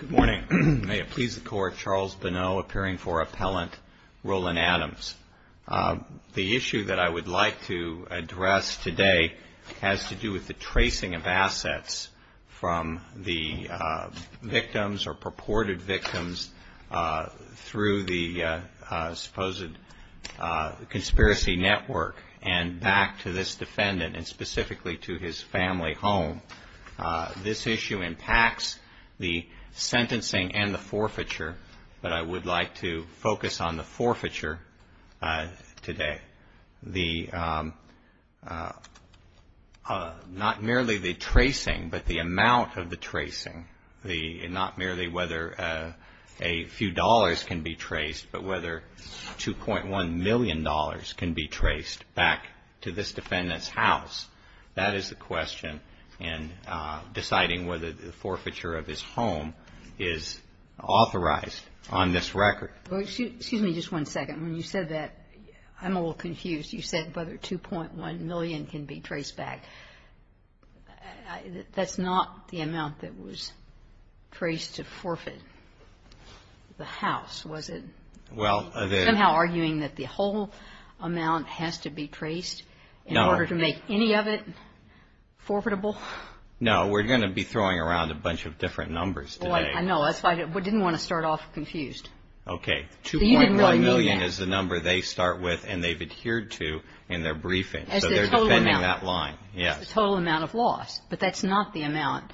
Good morning. May it please the Court, Charles Bonneau, appearing for Appellant Roland Adams. The issue that I would like to address today has to do with the tracing of assets from the victims or purported victims through the supposed conspiracy network and back to this This issue impacts the sentencing and the forfeiture, but I would like to focus on the forfeiture today. Not merely the tracing, but the amount of the tracing. Not merely whether a few dollars can be traced, but whether $2.1 million can be traced back to this defendant's deciding whether the forfeiture of his home is authorized on this record. Well, excuse me just one second. When you said that, I'm a little confused. You said whether $2.1 million can be traced back. That's not the amount that was traced to forfeit the house, was it? Somehow arguing that the whole amount has to be traced in order to make any of it No, we're going to be throwing around a bunch of different numbers today. I know. That's why I didn't want to start off confused. Okay. $2.1 million is the number they start with and they've adhered to in their briefing, so they're defending that line. That's the total amount of loss, but that's not the amount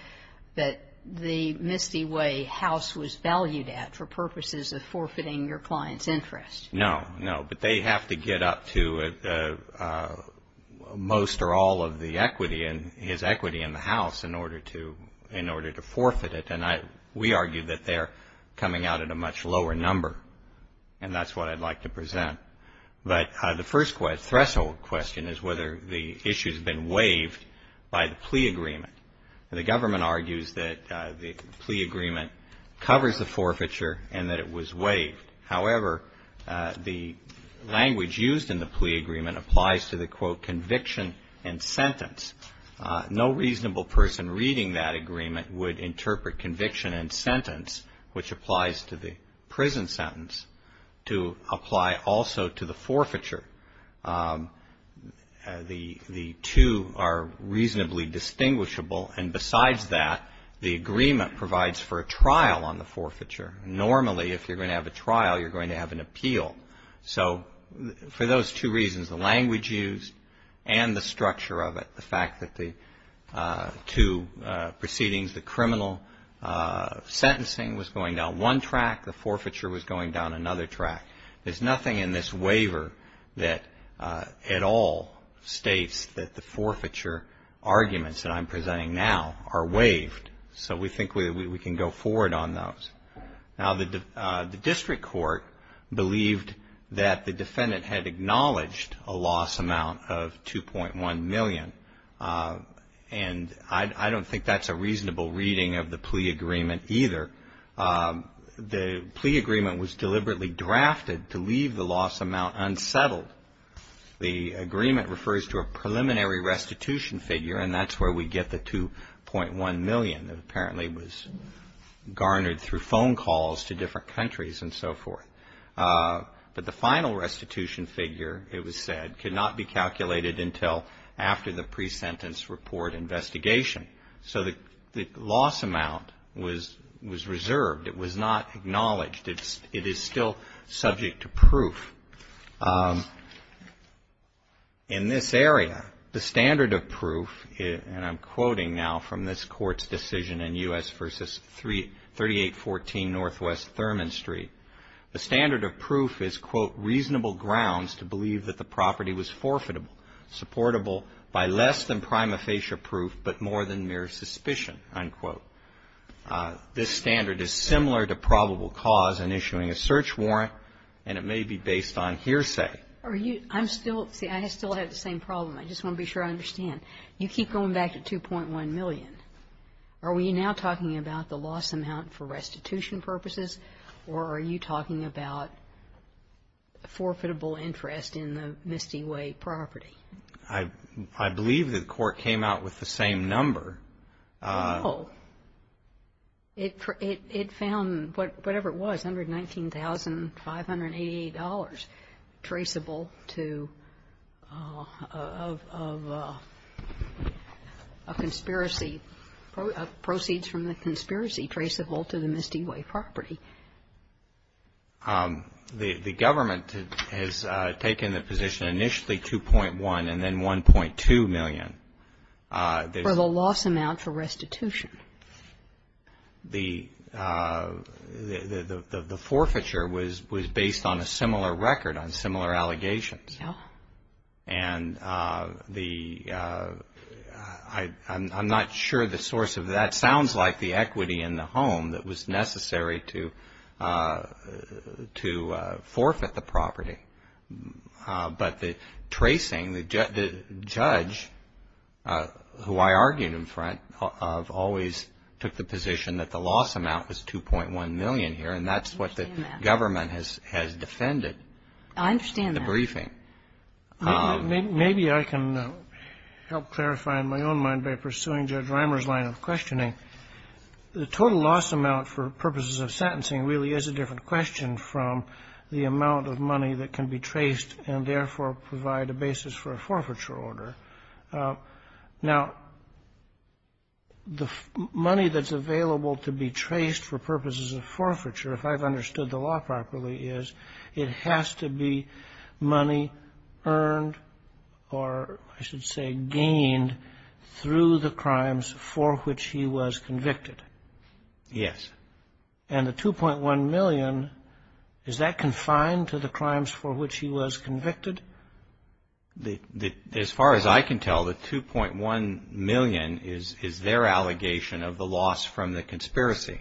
that the Misty Way house was valued at for purposes of forfeiting your client's interest. No, but they have to get up to most or all of his equity in the house in order to forfeit it, and we argue that they're coming out at a much lower number, and that's what I'd like to present. But the first threshold question is whether the issue's been waived by the plea agreement. The government argues that the plea agreement covers the forfeiture and that it was waived. However, the language used in the plea agreement applies to the, quote, conviction and sentence. No reasonable person reading that agreement would interpret conviction and sentence, which applies to the prison sentence, to apply also to the forfeiture. The two are reasonably distinguishable, and besides that, the agreement provides for a trial on the forfeiture. Normally, if you're going to have a trial, you're going to have an appeal. So for those two reasons, the language used and the structure of it, the fact that the two proceedings, the criminal sentencing was going down one track, the forfeiture was going down another track. There's nothing in this waiver that at all states that the forfeiture arguments that I'm presenting now are waived, so we think we can go forward on those. Now, the district court believed that the defendant had acknowledged a loss amount of $2.1 million, and I don't think that's a reasonable reading of the plea agreement either. The plea agreement was deliberately drafted to leave the loss amount unsettled. The agreement refers to a preliminary restitution figure, and that's where we get the $2.1 million that apparently was garnered through phone calls to different countries and so forth. But the final restitution figure, it was said, could not be calculated until after the pre-sentence report investigation. So the loss amount was reserved. It is still subject to proof. In this area, the standard of proof, and I'm quoting now from this court's decision in U.S. versus 3814 Northwest Thurman Street, the standard of proof is, quote, reasonable grounds to believe that the property was forfeitable, supportable by less than prima facie proof, but more than mere suspicion, unquote. This standard is similar to probable cause in issuing a search warrant, and it may be based on hearsay. Are you, I'm still, see, I still have the same problem. I just want to be sure I understand. You keep going back to $2.1 million. Are we now talking about the loss amount for restitution purposes, or are you talking about a forfeitable interest in the Misty Way property? I believe the court came out with the same number. Oh, it found, whatever it was, $119,588 traceable to, of a conspiracy, proceeds from the conspiracy traceable to the Misty Way property. The government has taken the position initially $2.1 and then $1.2 million. For the loss amount for restitution. The forfeiture was based on a similar record, on similar allegations. And the, I'm not sure the source of that. Sounds like the equity in the home that was necessary to forfeit the property. But the tracing, the judge, who I argued in front of, always took the position that the loss amount was $2.1 million here. And that's what the government has defended. I understand that. The briefing. Maybe I can help clarify in my own mind by pursuing Judge Reimer's line of questioning. The total loss amount for purposes of sentencing really is a different question from the amount of money that can be traced and therefore provide a basis for a forfeiture order. Now, the money that's available to be traced for purposes of forfeiture, if I've understood the law properly, is it has to be money earned or, I should say, gained through the crimes for which he was convicted. Yes. And the $2.1 million, is that confined to the crimes for which he was convicted? As far as I can tell, the $2.1 million is their allegation of the loss from the conspiracy.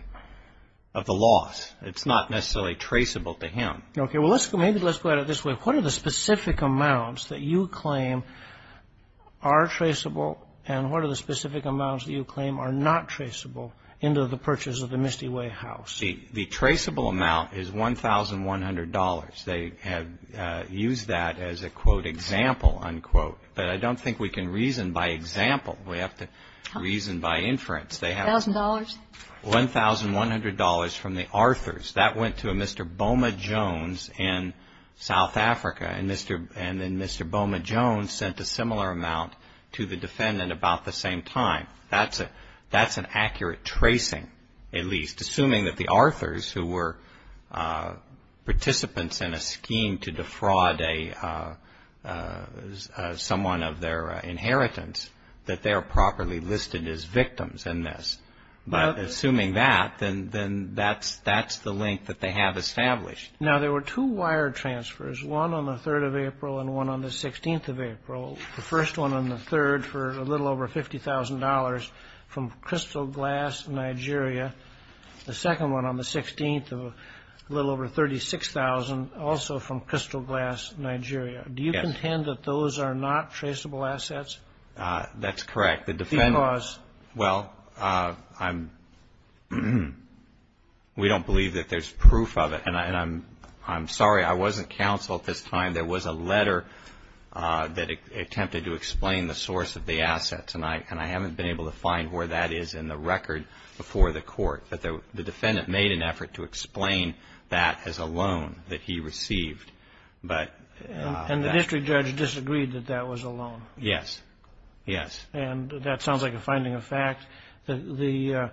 Of the loss. It's not necessarily traceable to him. Okay. Well, let's go, maybe let's go at it this way. What are the specific amounts that you claim are traceable? And what are the specific amounts that you claim are not traceable into the purchase of the Misty Way house? The traceable amount is $1,100. They have used that as a, quote, example, unquote. But I don't think we can reason by example. We have to reason by inference. $1,000? $1,100 from the Arthurs. That went to a Mr. Boma Jones in South Africa. And then Mr. Boma Jones sent a similar amount to the defendant about the same time. That's an accurate tracing, at least. Assuming that the Arthurs, who were participants in a scheme to defraud someone of their inheritance, that they are properly listed as victims in this. But assuming that, then that's the link that they have established. Now, there were two wire transfers. One on the 3rd of April and one on the 16th of April. The first one on the 3rd for a little over $50,000 from Crystal Glass, Nigeria. The second one on the 16th, a little over $36,000, also from Crystal Glass, Nigeria. Do you contend that those are not traceable assets? That's correct. Well, we don't believe that there's proof of it. And I'm sorry, I wasn't counsel at this time. There was a letter that attempted to explain the source of the assets. And I haven't been able to find where that is in the record before the court. But the defendant made an effort to explain that as a loan that he received. And the district judge disagreed that that was a loan? Yes, yes. And that sounds like a finding of fact. The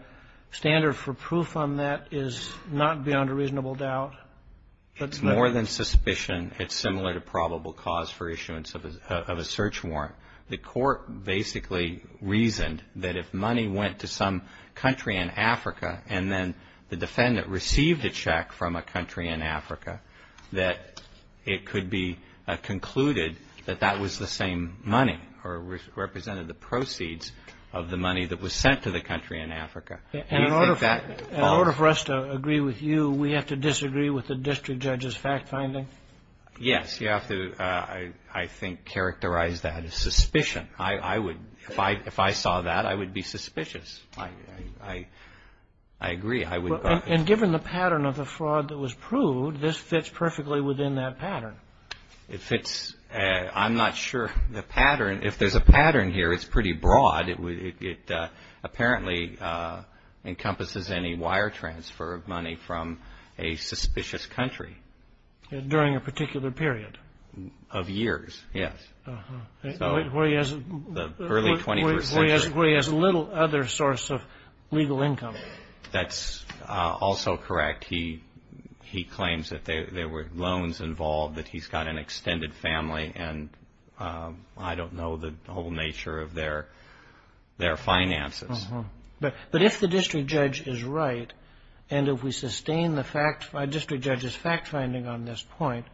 standard for proof on that is not beyond a reasonable doubt. It's more than suspicion. It's similar to probable cause for issuance of a search warrant. The court basically reasoned that if money went to some country in Africa and then the defendant received a check from a country in Africa, that it could be concluded that that was the same money or represented the proceeds of the money that was sent to the country in Africa. And in order for us to agree with you, we have to disagree with the district judge's fact finding? Yes. You have to, I think, characterize that as suspicion. If I saw that, I would be suspicious. I agree. And given the pattern of the fraud that was proved, this fits perfectly within that pattern? It fits. I'm not sure the pattern. If there's a pattern here, it's pretty broad. It apparently encompasses any wire transfer of money from a suspicious country. During a particular period? Of years, yes. Where he has little other source of legal income. That's also correct. He claims that there were loans involved, that he's got an extended family, and I don't know the whole nature of their finances. But if the district judge is right, and if we sustain the district judge's fact finding on this point,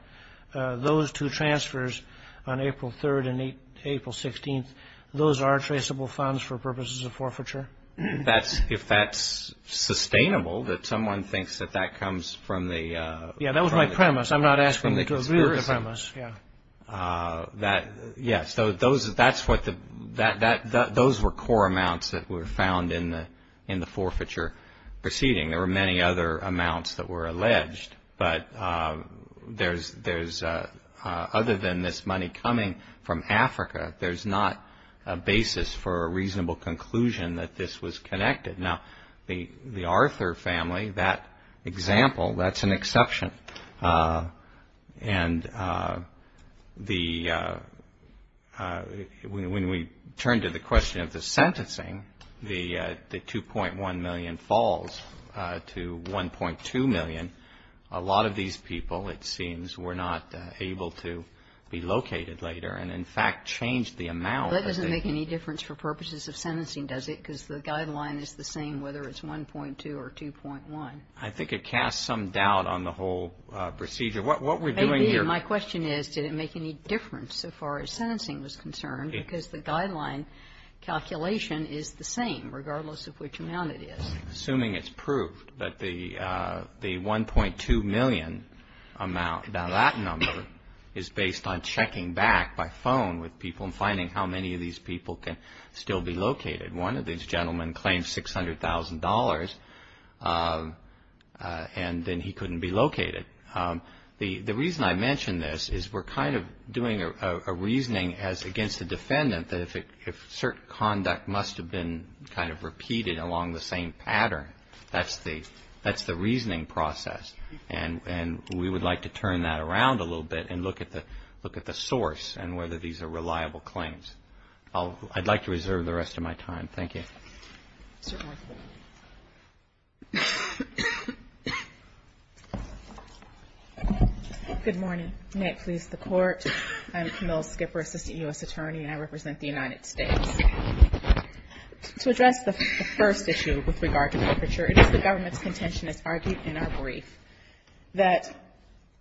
those two transfers on April 3rd and April 16th, those are traceable funds for purposes of forfeiture? If that's sustainable, that someone thinks that that comes from the... Yeah, that was my premise. I'm not asking you to agree with the premise. Yeah, so those were core amounts that were found in the forfeiture proceeding. There were many other amounts that were alleged, but other than this money coming from Africa, there's not a basis for a reasonable conclusion that this was connected. Now, the Arthur family, that example, that's an exception. And when we turn to the question of the sentencing, the 2.1 million falls to 1.2 million. A lot of these people, it seems, were not able to be located later, and in fact, changed the amount. That doesn't make any difference for purposes of sentencing, does it? Because the guideline is the same, whether it's 1.2 or 2.1. I think it casts some doubt on the whole procedure. What we're doing here... My question is, did it make any difference so far as sentencing was concerned? Because the guideline calculation is the same, regardless of which amount it is. Assuming it's proved that the 1.2 million amount, now that number is based on checking back by phone with people and finding how many of these people can still be located. One of these gentlemen claimed $600,000, and then he couldn't be located. The reason I mention this is we're kind of doing a reasoning against the defendant that if certain conduct must have been repeated along the same pattern, that's the reasoning process. And we would like to turn that around a little bit and look at the source and whether these are reliable claims. I'd like to reserve the rest of my time. Thank you. Ms. Skipper. Good morning. May it please the Court. I'm Camille Skipper, Assistant U.S. Attorney, and I represent the United States. To address the first issue with regard to perpetrator, it is the government's contention, as argued in our brief, that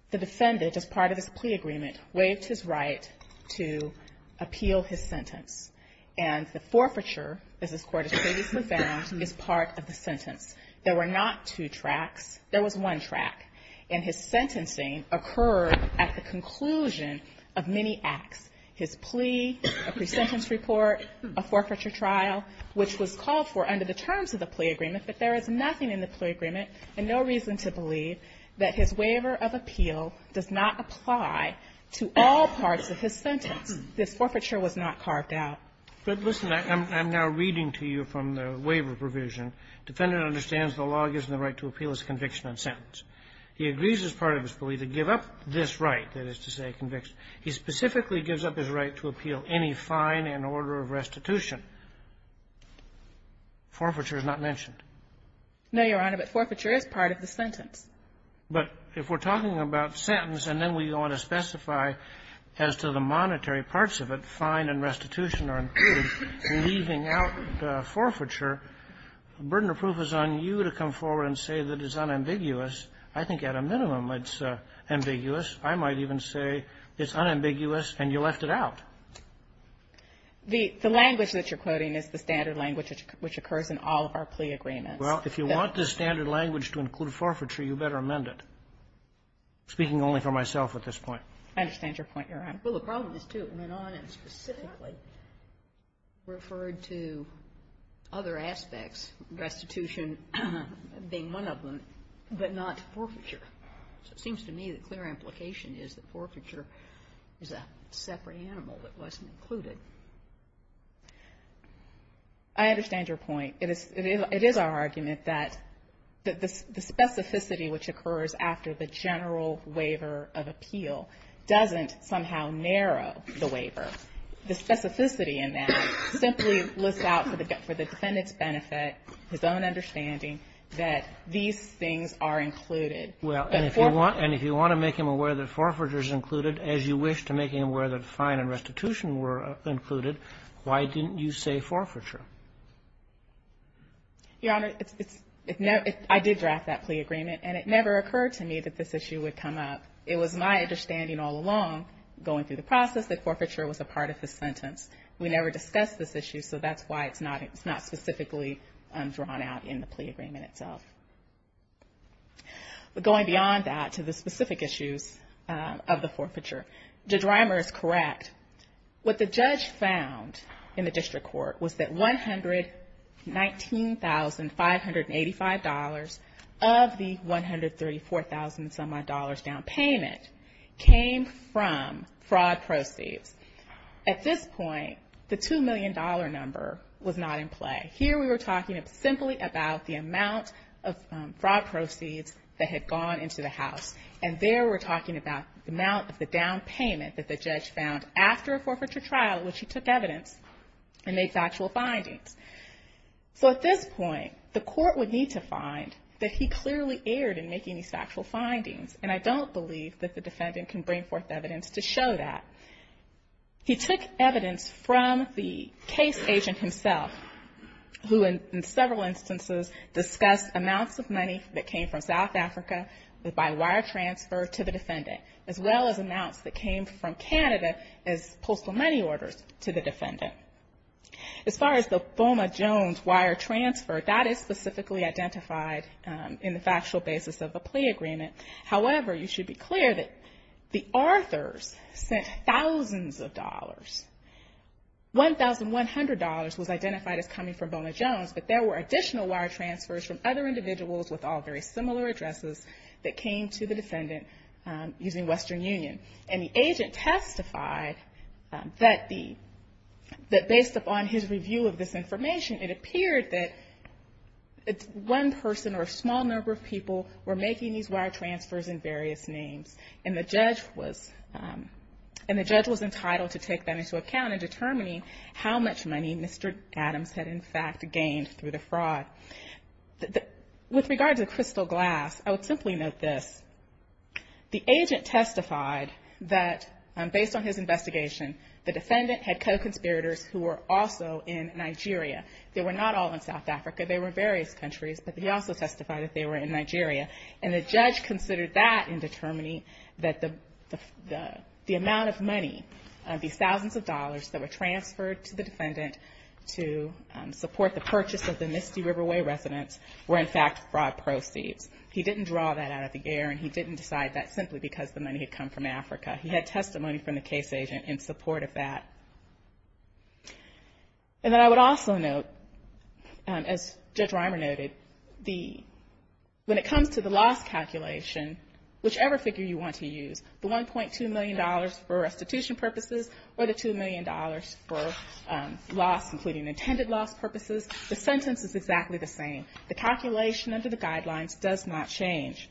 the defendant, as part of his plea agreement, waived his right to appeal his sentence. And the forfeiture, as this Court has previously found, is part of the sentence. There were not two tracks. There was one track. And his sentencing occurred at the conclusion of many acts. His plea, a pre-sentence report, a forfeiture trial, which was called for under the terms of the plea agreement, but there is nothing in the plea agreement and no reason to believe that his waiver of appeal does not apply to all parts of his sentence. This forfeiture was not carved out. But listen, I'm now reading to you from the waiver provision. Defendant understands the law gives him the right to appeal his conviction and sentence. He agrees as part of his plea to give up this right, that is to say conviction. He specifically gives up his right to appeal any fine and order of restitution. Forfeiture is not mentioned. No, Your Honor, but forfeiture is part of the sentence. But if we're talking about sentence and then we want to specify as to the monetary parts of it, fine and restitution are included, leaving out forfeiture, the burden of proof is on you to come forward and say that it's unambiguous. I think at a minimum it's ambiguous. I might even say it's unambiguous and you left it out. The language that you're quoting is the standard language which occurs in all of our plea agreements. Well, if you want the standard language to include forfeiture, you better amend it. Speaking only for myself at this point. I understand your point, Your Honor. Well, the problem is, too, it went on and specifically referred to other aspects, restitution being one of them, but not forfeiture. So it seems to me the clear implication is that forfeiture is a separate animal that wasn't included. I understand your point. It is our argument that the specificity which occurs after the general waiver of appeal doesn't somehow narrow the waiver. The specificity in that simply looks out for the defendant's benefit, his own understanding that these things are included. Well, and if you want to make him aware that forfeiture is included, as you wish to make him aware that fine and restitution were included, why didn't you say forfeiture? Your Honor, I did draft that plea agreement, and it never occurred to me that this issue would come up. It was my understanding all along going through the process that forfeiture was a part of the sentence. We never discussed this issue, so that's why it's not specifically drawn out in the plea agreement itself. But going beyond that to the specific issues of the forfeiture, Judge Reimer is correct. What the judge found in the district court was that $119,585 of the $134,000 down payment came from fraud proceeds. At this point, the $2 million number was not in play. Here we were talking simply about the amount of fraud proceeds that had gone into the house, and there we're talking about the amount of the down payment that the judge found after a forfeiture trial in which he took evidence and made factual findings. So at this point, the court would need to find that he clearly erred in making these factual findings, and I don't believe that the defendant can bring forth evidence to show that. He took evidence from the case agent himself, who in several instances discussed amounts of money that came from South Africa by wire transfer to the defendant, as well as amounts that came from Canada as postal money orders to the defendant. As far as the Bona Jones wire transfer, that is specifically identified in the factual basis of the plea agreement. However, you should be clear that the authors sent thousands of dollars. $1,100 was identified as coming from Bona Jones, but there were additional wire transfers from other individuals with all very similar addresses that came to the defendant using Western Union, and the agent testified that based upon his review of this information, it appeared that one person or a small number of people were making these wire transfers in various names, and the judge was entitled to take that into account in determining how much money Mr. Adams had, in fact, gained through the fraud. With regard to the crystal glass, I would simply note this. The agent testified that based on his investigation, the defendant had co-conspirators who were also in Nigeria. They were not all in South Africa. They were various countries, but he also testified that they were in Nigeria, and the judge considered that in determining that the amount of money, these thousands of dollars that were transferred to the defendant to support the purchase of the Misty Riverway residence were, in fact, fraud proceeds. He didn't draw that out of the air, and he didn't decide that simply because the money had come from Africa. He had testimony from the case agent in support of that. And then I would also note, as Judge Reimer noted, when it comes to the loss calculation, whichever figure you want to use, the $1.2 million for restitution purposes or the $2 million for loss, including intended loss purposes, the sentence is exactly the same. The calculation under the guidelines does not change.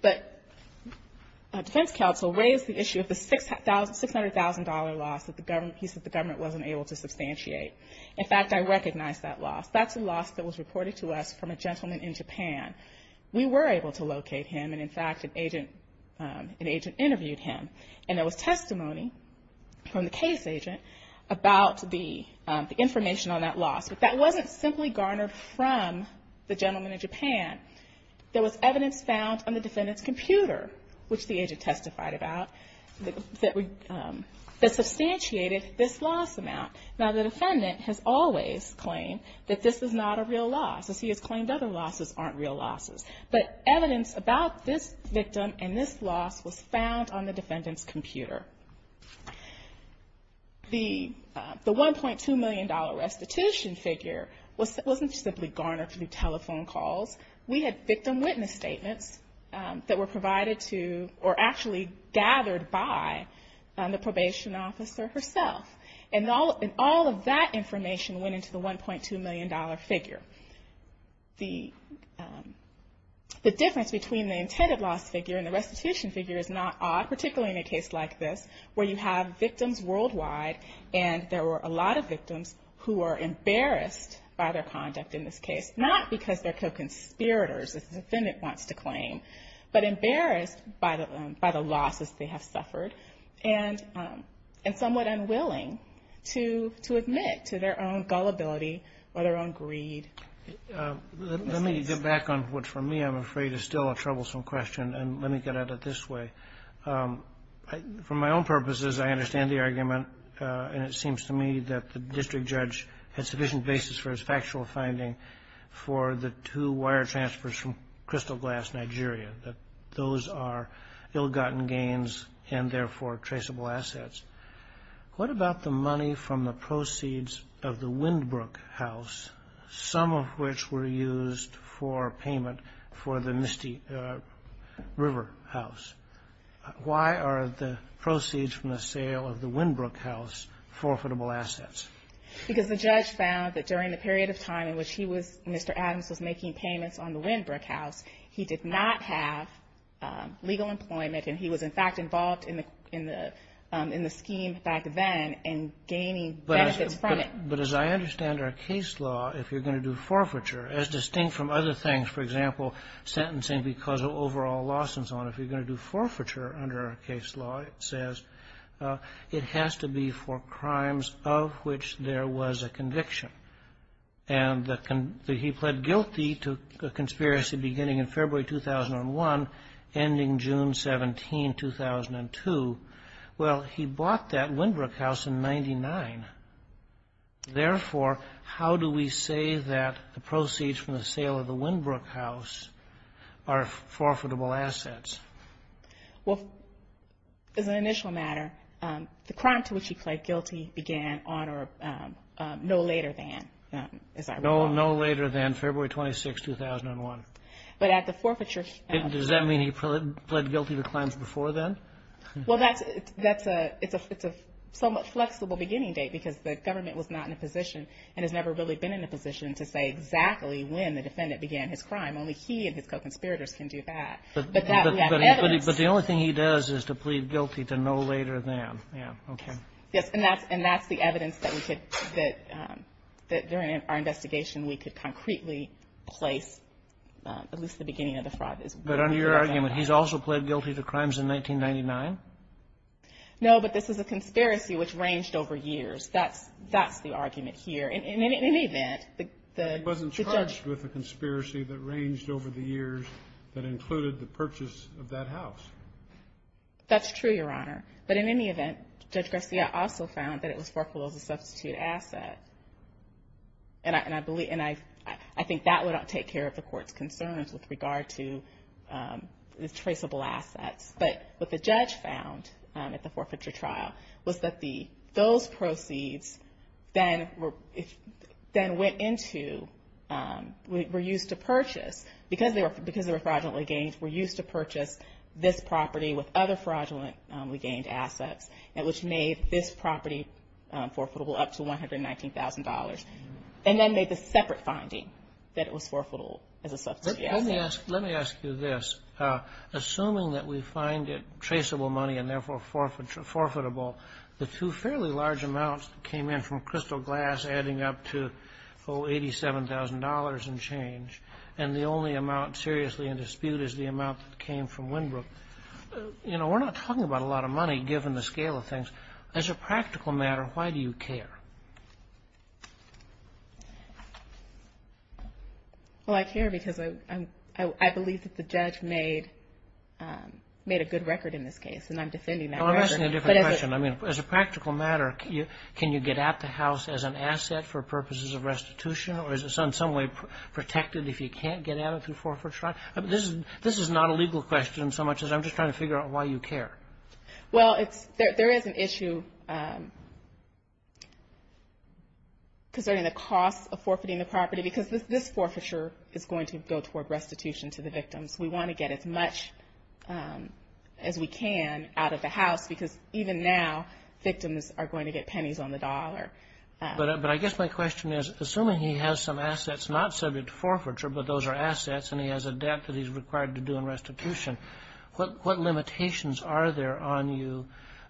But defense counsel raised the issue of the $600,000 loss that he said the government wasn't able to substantiate. In fact, I recognize that loss. That's a loss that was reported to us from a gentleman in Japan. We were able to locate him, and in fact, an agent interviewed him, and there was testimony from the case agent about the information on that loss. But that wasn't simply garnered from the gentleman in Japan. There was evidence found on the defendant's computer, which the agent testified about, that substantiated this loss amount. Now, the defendant has always claimed that this is not a real loss, as he has claimed other losses aren't real losses. But evidence about this victim and this loss was found on the defendant's computer. The $1.2 million restitution figure wasn't simply garnered through telephone calls. We had victim witness statements that were provided to or actually gathered by the probation officer herself. And all of that information went into the $1.2 million figure. The difference between the intended loss figure and the restitution figure is not odd, particularly in a case like this, where you have victims worldwide, and there were a lot of victims who are embarrassed by their conduct in this case, not because they're co-conspirators, as the defendant wants to claim, but embarrassed by the losses they have suffered, and somewhat unwilling to admit to their own gullibility or their own greed. Let me get back on what for me, I'm afraid, is still a troublesome question, and let me get at it this way. For my own purposes, I understand the argument, and it seems to me that the district judge had sufficient basis for his factual finding for the two wire transfers from Crystal Glass, Nigeria, that those are ill-gotten gains and, therefore, traceable assets. What about the money from the proceeds of the Windbrook house, some of which were used for payment for the Misty River? Why are the proceeds from the sale of the Windbrook house forfeitable assets? Because the judge found that during the period of time in which he was, Mr. Adams, was making payments on the Windbrook house, he did not have legal employment, and he was, in fact, involved in the scheme back then and gaining benefits from it. But as I understand our case law, if you're going to do forfeiture, as distinct from other things, for example, sentencing because of overall loss and so on, if you're going to do forfeiture under our case law, it says it has to be for crimes of which there was a conviction, and that he pled guilty to a conspiracy beginning in February 2001, ending June 17, 2002. Well, he bought that Windbrook house in 99. Therefore, how do we say that the proceeds from the sale of the Windbrook house are forfeitable assets? Well, as an initial matter, the crime to which he pled guilty began on or no later than, as I recall. No later than February 26, 2001. But at the forfeiture... Does that mean he pled guilty to crimes before then? Well, that's a... It's a somewhat flexible beginning date because the government was not in a position and has never really been in a position to say exactly when the defendant began his crime. Only he and his co-conspirators can do that. But that we have evidence. But the only thing he does is to plead guilty to no later than. Yeah. Okay. Yes, and that's the evidence that we could... that during our investigation, we could concretely place at least the beginning of the fraud. But under your argument, he's also pled guilty to crimes in 1999? No, but this is a conspiracy which ranged over years. That's the argument here. In any event... But he wasn't charged with a conspiracy that ranged over the years that included the purchase of that house. That's true, Your Honor. But in any event, Judge Garcia also found that it was forfeitable as a substitute asset. And I believe... And I think that would take care of the court's concerns with regard to the traceable assets. But what the judge found at the forfeiture trial was that those proceeds then went into... were used to purchase... Because they were fraudulently gained, were used to purchase this property with other fraudulently gained assets which made this property forfeitable up to $119,000. And then made the separate finding that it was forfeitable as a substitute asset. Let me ask you this. Assuming that we find it traceable money and therefore forfeitable, the two fairly large amounts that came in from Crystal Glass adding up to $87,000 and change and the only amount seriously in dispute is the amount that came from Winbrook, you know, we're not talking about a lot of money given the scale of things. As a practical matter, why do you care? Well, I care because I believe that the judge made a good record in this case and I'm defending that record. As a practical matter, can you get at the house as an asset for purposes of restitution or is it in some way protected if you can't get at it through forfeiture trial? This is not a legal question so much as I'm just trying to figure out why you care. Well, there is an issue concerning the cost of forfeiting the property because this forfeiture is going to go toward restitution to the victims. We want to get as much as we can out of the house because even now victims are going to get pennies on the dollar. But I guess my question is assuming he has some assets not subject to forfeiture but those are assets and he has a debt that he's required to do in restitution, what limitations are there on you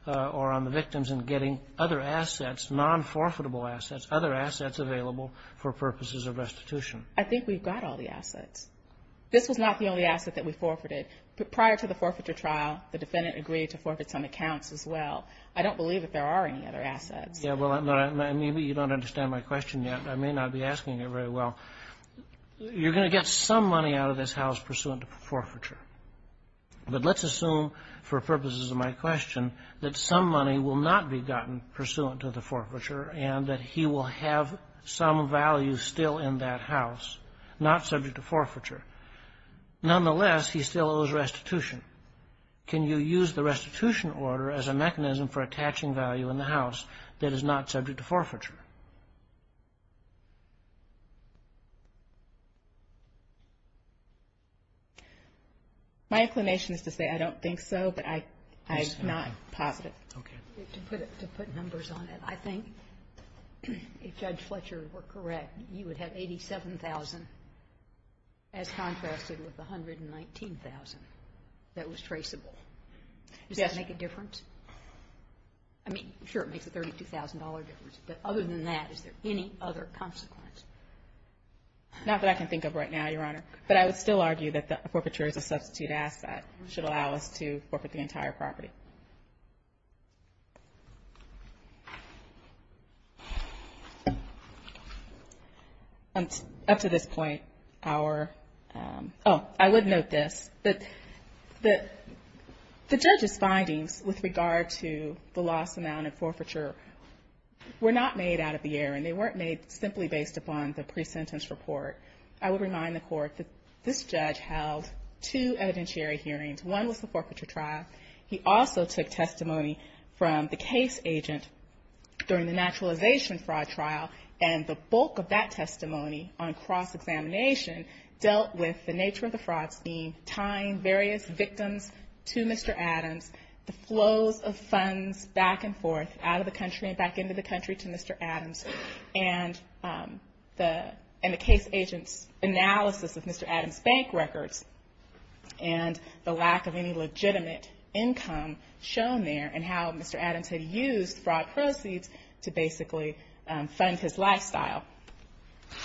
or on the victims in getting other assets, non-forfeitable assets, other assets available for purposes of restitution? I think we've got all the assets. This was not the only asset that we forfeited. Prior to the forfeiture trial the defendant agreed to forfeit some accounts as well. I don't believe that there are any other assets. Maybe you don't understand my question yet. I may not be asking it very well. You're going to get some money out of this house pursuant to forfeiture. But let's assume for purposes of my question that some money will not be gotten pursuant to the forfeiture and that he will have some value still in that house not subject to forfeiture. Nonetheless, he still owes restitution. Can you use the restitution order as a mechanism for attaching value in the house that is not subject to forfeiture? My inclination is to say I don't think so, but I am not positive. To put numbers on it, I think if Judge Fletcher were correct, you would have $87,000 as contrasted with $119,000 that was traceable. Does that make a difference? I mean, sure it makes a $32,000 difference, but other than that is there any other consequence? Not that I can think of right now, but I would still argue that the forfeiture is a substitute asset. It should allow us to forfeit the entire property. Up to this point, our I would note this the judge's findings with regard to the lost amount of forfeiture were not made out of the air and they weren't made simply based upon the this judge held two evidentiary hearings. One was the forfeiture trial. He also took testimony from the case agent during the naturalization fraud trial and the bulk of that testimony on cross-examination dealt with the nature of the fraud scheme, tying various victims to Mr. Adams, the flows of funds back and forth out of the country and back into the country to Mr. Adams and the case agent's analysis of Mr. Adams' bank records and the lack of any legitimate income shown there and how Mr. Adams had used fraud proceeds to basically fund his lifestyle.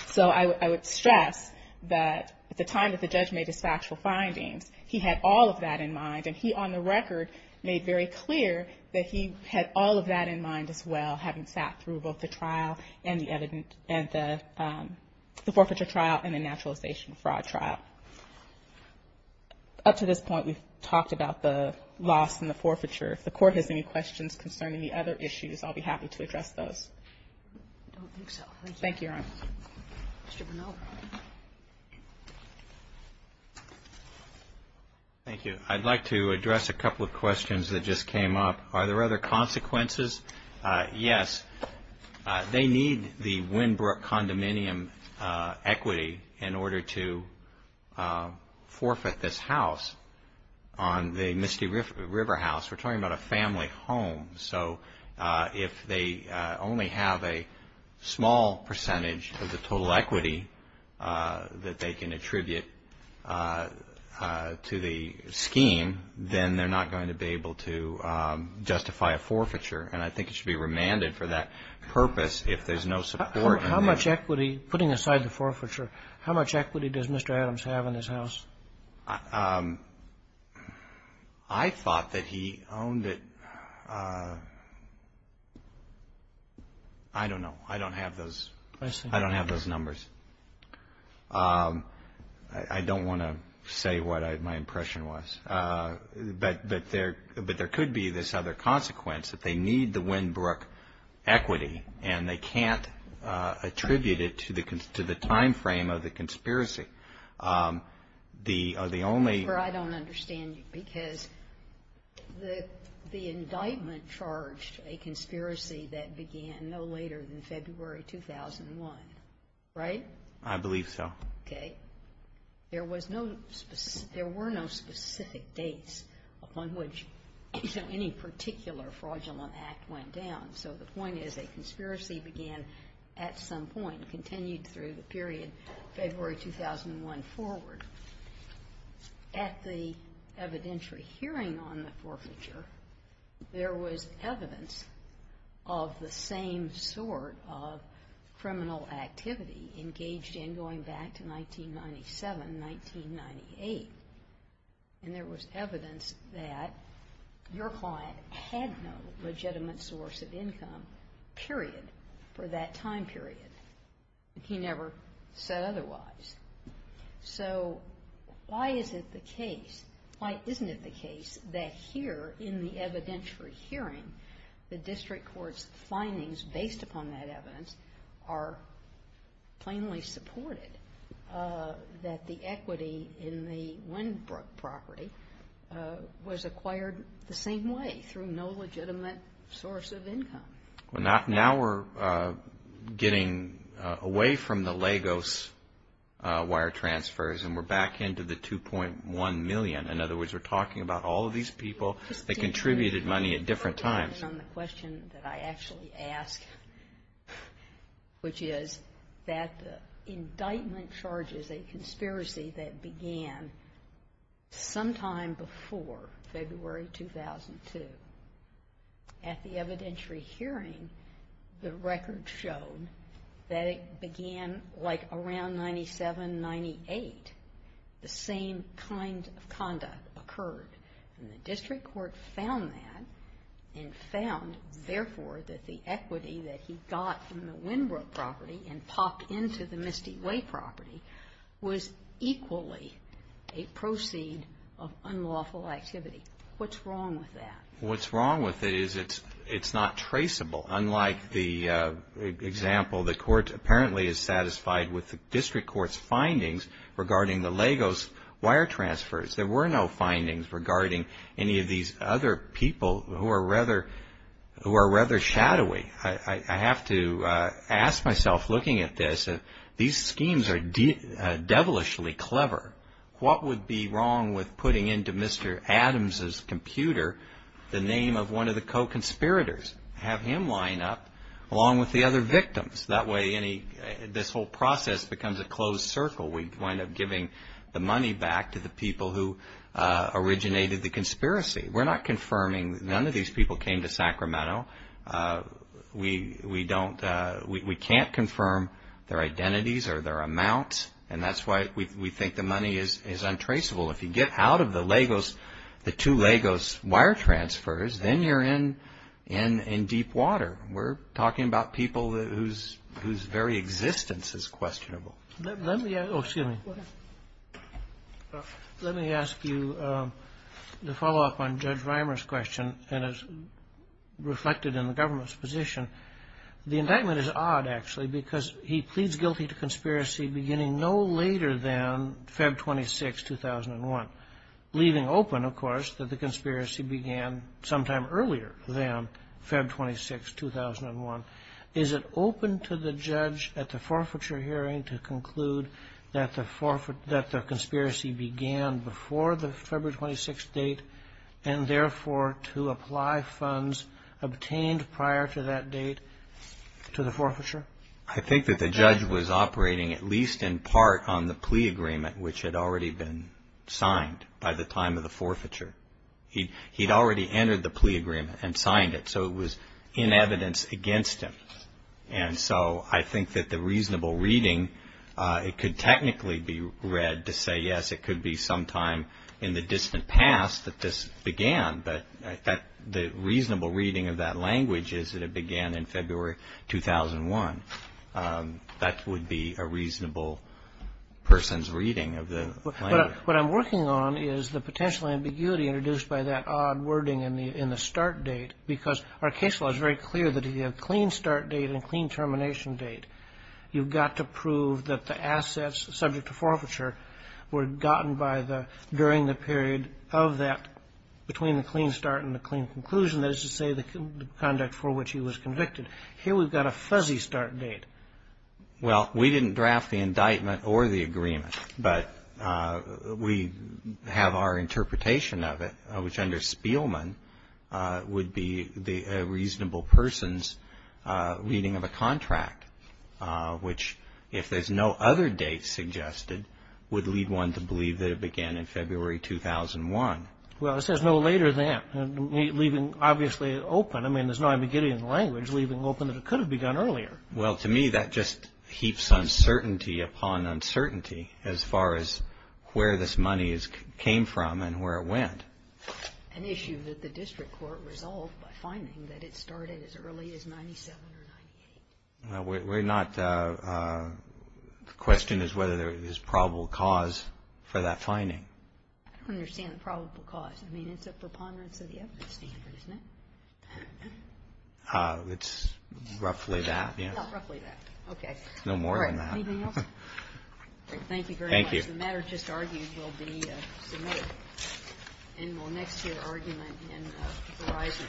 So I would stress that at the time that the judge made his factual findings, he had all of that in mind and he on the record made very clear that he had all of that in mind as well, having sat through both the trial and the forfeiture trial and the naturalization fraud trial. Up to this point, we've talked about the loss and the forfeiture. If the court has any questions concerning the other issues, I'll be happy to address those. I don't think so. Thank you. Thank you, Your Honor. Mr. Bernal. Thank you. I'd like to address a couple of questions that just came up. Are there other consequences? Yes. They need the equity in order to forfeit this house on the Misty River House. We're talking about a family home. So if they only have a small percentage of the total equity that they can attribute to the scheme, then they're not going to be able to justify a forfeiture and I think it should be remanded for that purpose if there's no support. How much equity, putting aside the forfeiture, how much equity does Mr. Adams have in this house? I thought that he owned it I don't know. I don't have those numbers. I don't want to say what my impression was. But there could be this other consequence that they need the Winbrook equity and they can't attribute it to the time frame of the conspiracy. The only... I don't understand you because the indictment charged a conspiracy that began no later than February 2001, right? I believe so. There were no specific dates on which any particular fraudulent act went down. So the point is a conspiracy began at some point continued through the period February 2001 forward. At the evidentiary hearing on the forfeiture, there was evidence of the same sort of criminal activity engaged in going back to 1997 1998. And there was evidence that your client had no legitimate source of income period for that time period. He never said otherwise. So why is it the case why isn't it the case that here in the evidentiary hearing the district court's findings based upon that evidence are plainly supported that the equity in the Winbrook property was acquired the same way through no legitimate source of income? Now we're getting away from the Lagos wire transfers and we're back into the 2.1 million. In other words, we're talking about all of these people that contributed money at different times. The question that I actually ask which is that the indictment charges a conspiracy that began sometime before February 2002 at the evidentiary hearing the record showed that it began like around 1997-98 the same kind of conduct occurred and the district court found that and found therefore that the equity that he got from the Winbrook property and popped into the Misty Way property was equally a proceed of unlawful activity. What's wrong with that? What's wrong with it is it's not traceable. Unlike the example the court apparently is satisfied with the district court's findings regarding the Lagos wire transfers. There were no findings regarding any of these other people who are rather shadowy. I have to ask myself looking at this these schemes are devilishly clever. What would be wrong with putting into Mr. Adams' computer the name of one of the co-conspirators have him line up along with the other victims. That way this whole process becomes a closed circle. We wind up giving the money back to the people who originated the conspiracy. We're not confirming none of these people came to Sacramento. We don't we can't confirm their identities or their amounts and that's why we think the money is untraceable. If you get out of the Lagos the two Lagos wire transfers then you're in deep water. We're talking about people whose very existence is questionable. Excuse me. Let me ask you the follow up on Judge Vimer's question and reflected in the government's position. The indictment is odd because he pleads guilty to conspiracy beginning no later than Feb. 26, 2001 leaving open that the conspiracy began sometime earlier than Feb. 26, 2001. Is it open to the judge at the forfeiture hearing to conclude that the conspiracy began before the Feb. 26 date and therefore to apply funds obtained prior to that date to the forfeiture? I think that the judge was operating at least in part on the plea agreement which had already been signed by the time of the forfeiture. He'd already entered the plea agreement and signed it so it was in evidence against him. And so I think that the reasonable reading, it could technically be read to say yes it could be sometime in the distant past that this began but the reasonable reading of that language is that it began in Feb. 2001. That would be a reasonable person's reading of the language. What I'm working on is the potential ambiguity introduced by that odd wording in the start date because our case law is very clear that you have clean start date and clean termination date. You've got to prove that the assets subject to forfeiture were gotten by the, during the period of that, between the termination date and the claim conclusion, that is to say the conduct for which he was convicted. Here we've got a fuzzy start date. Well, we didn't draft the indictment or the agreement but we have our interpretation of it which under Spielman would be a reasonable person's reading of a contract which if there's no other date suggested would lead one to believe that it began in Feb. 2001. Well, it says no later than, leaving obviously open, I mean there's no ambiguity in the language, leaving open that it could have begun earlier. Well, to me that just heaps uncertainty upon uncertainty as far as where this money came from and where it went. An issue that the district court resolved by finding that it started as early as 97 or 98. We're not, the question is whether there is a probable cause for that finding. I don't understand the probable cause. I mean, it's a preponderance of the evidence standard, isn't it? Ah, it's roughly that, yes. No more than that. Thank you very much. The matter just argued will be submitted in the next year argument in Verizon. Thank you.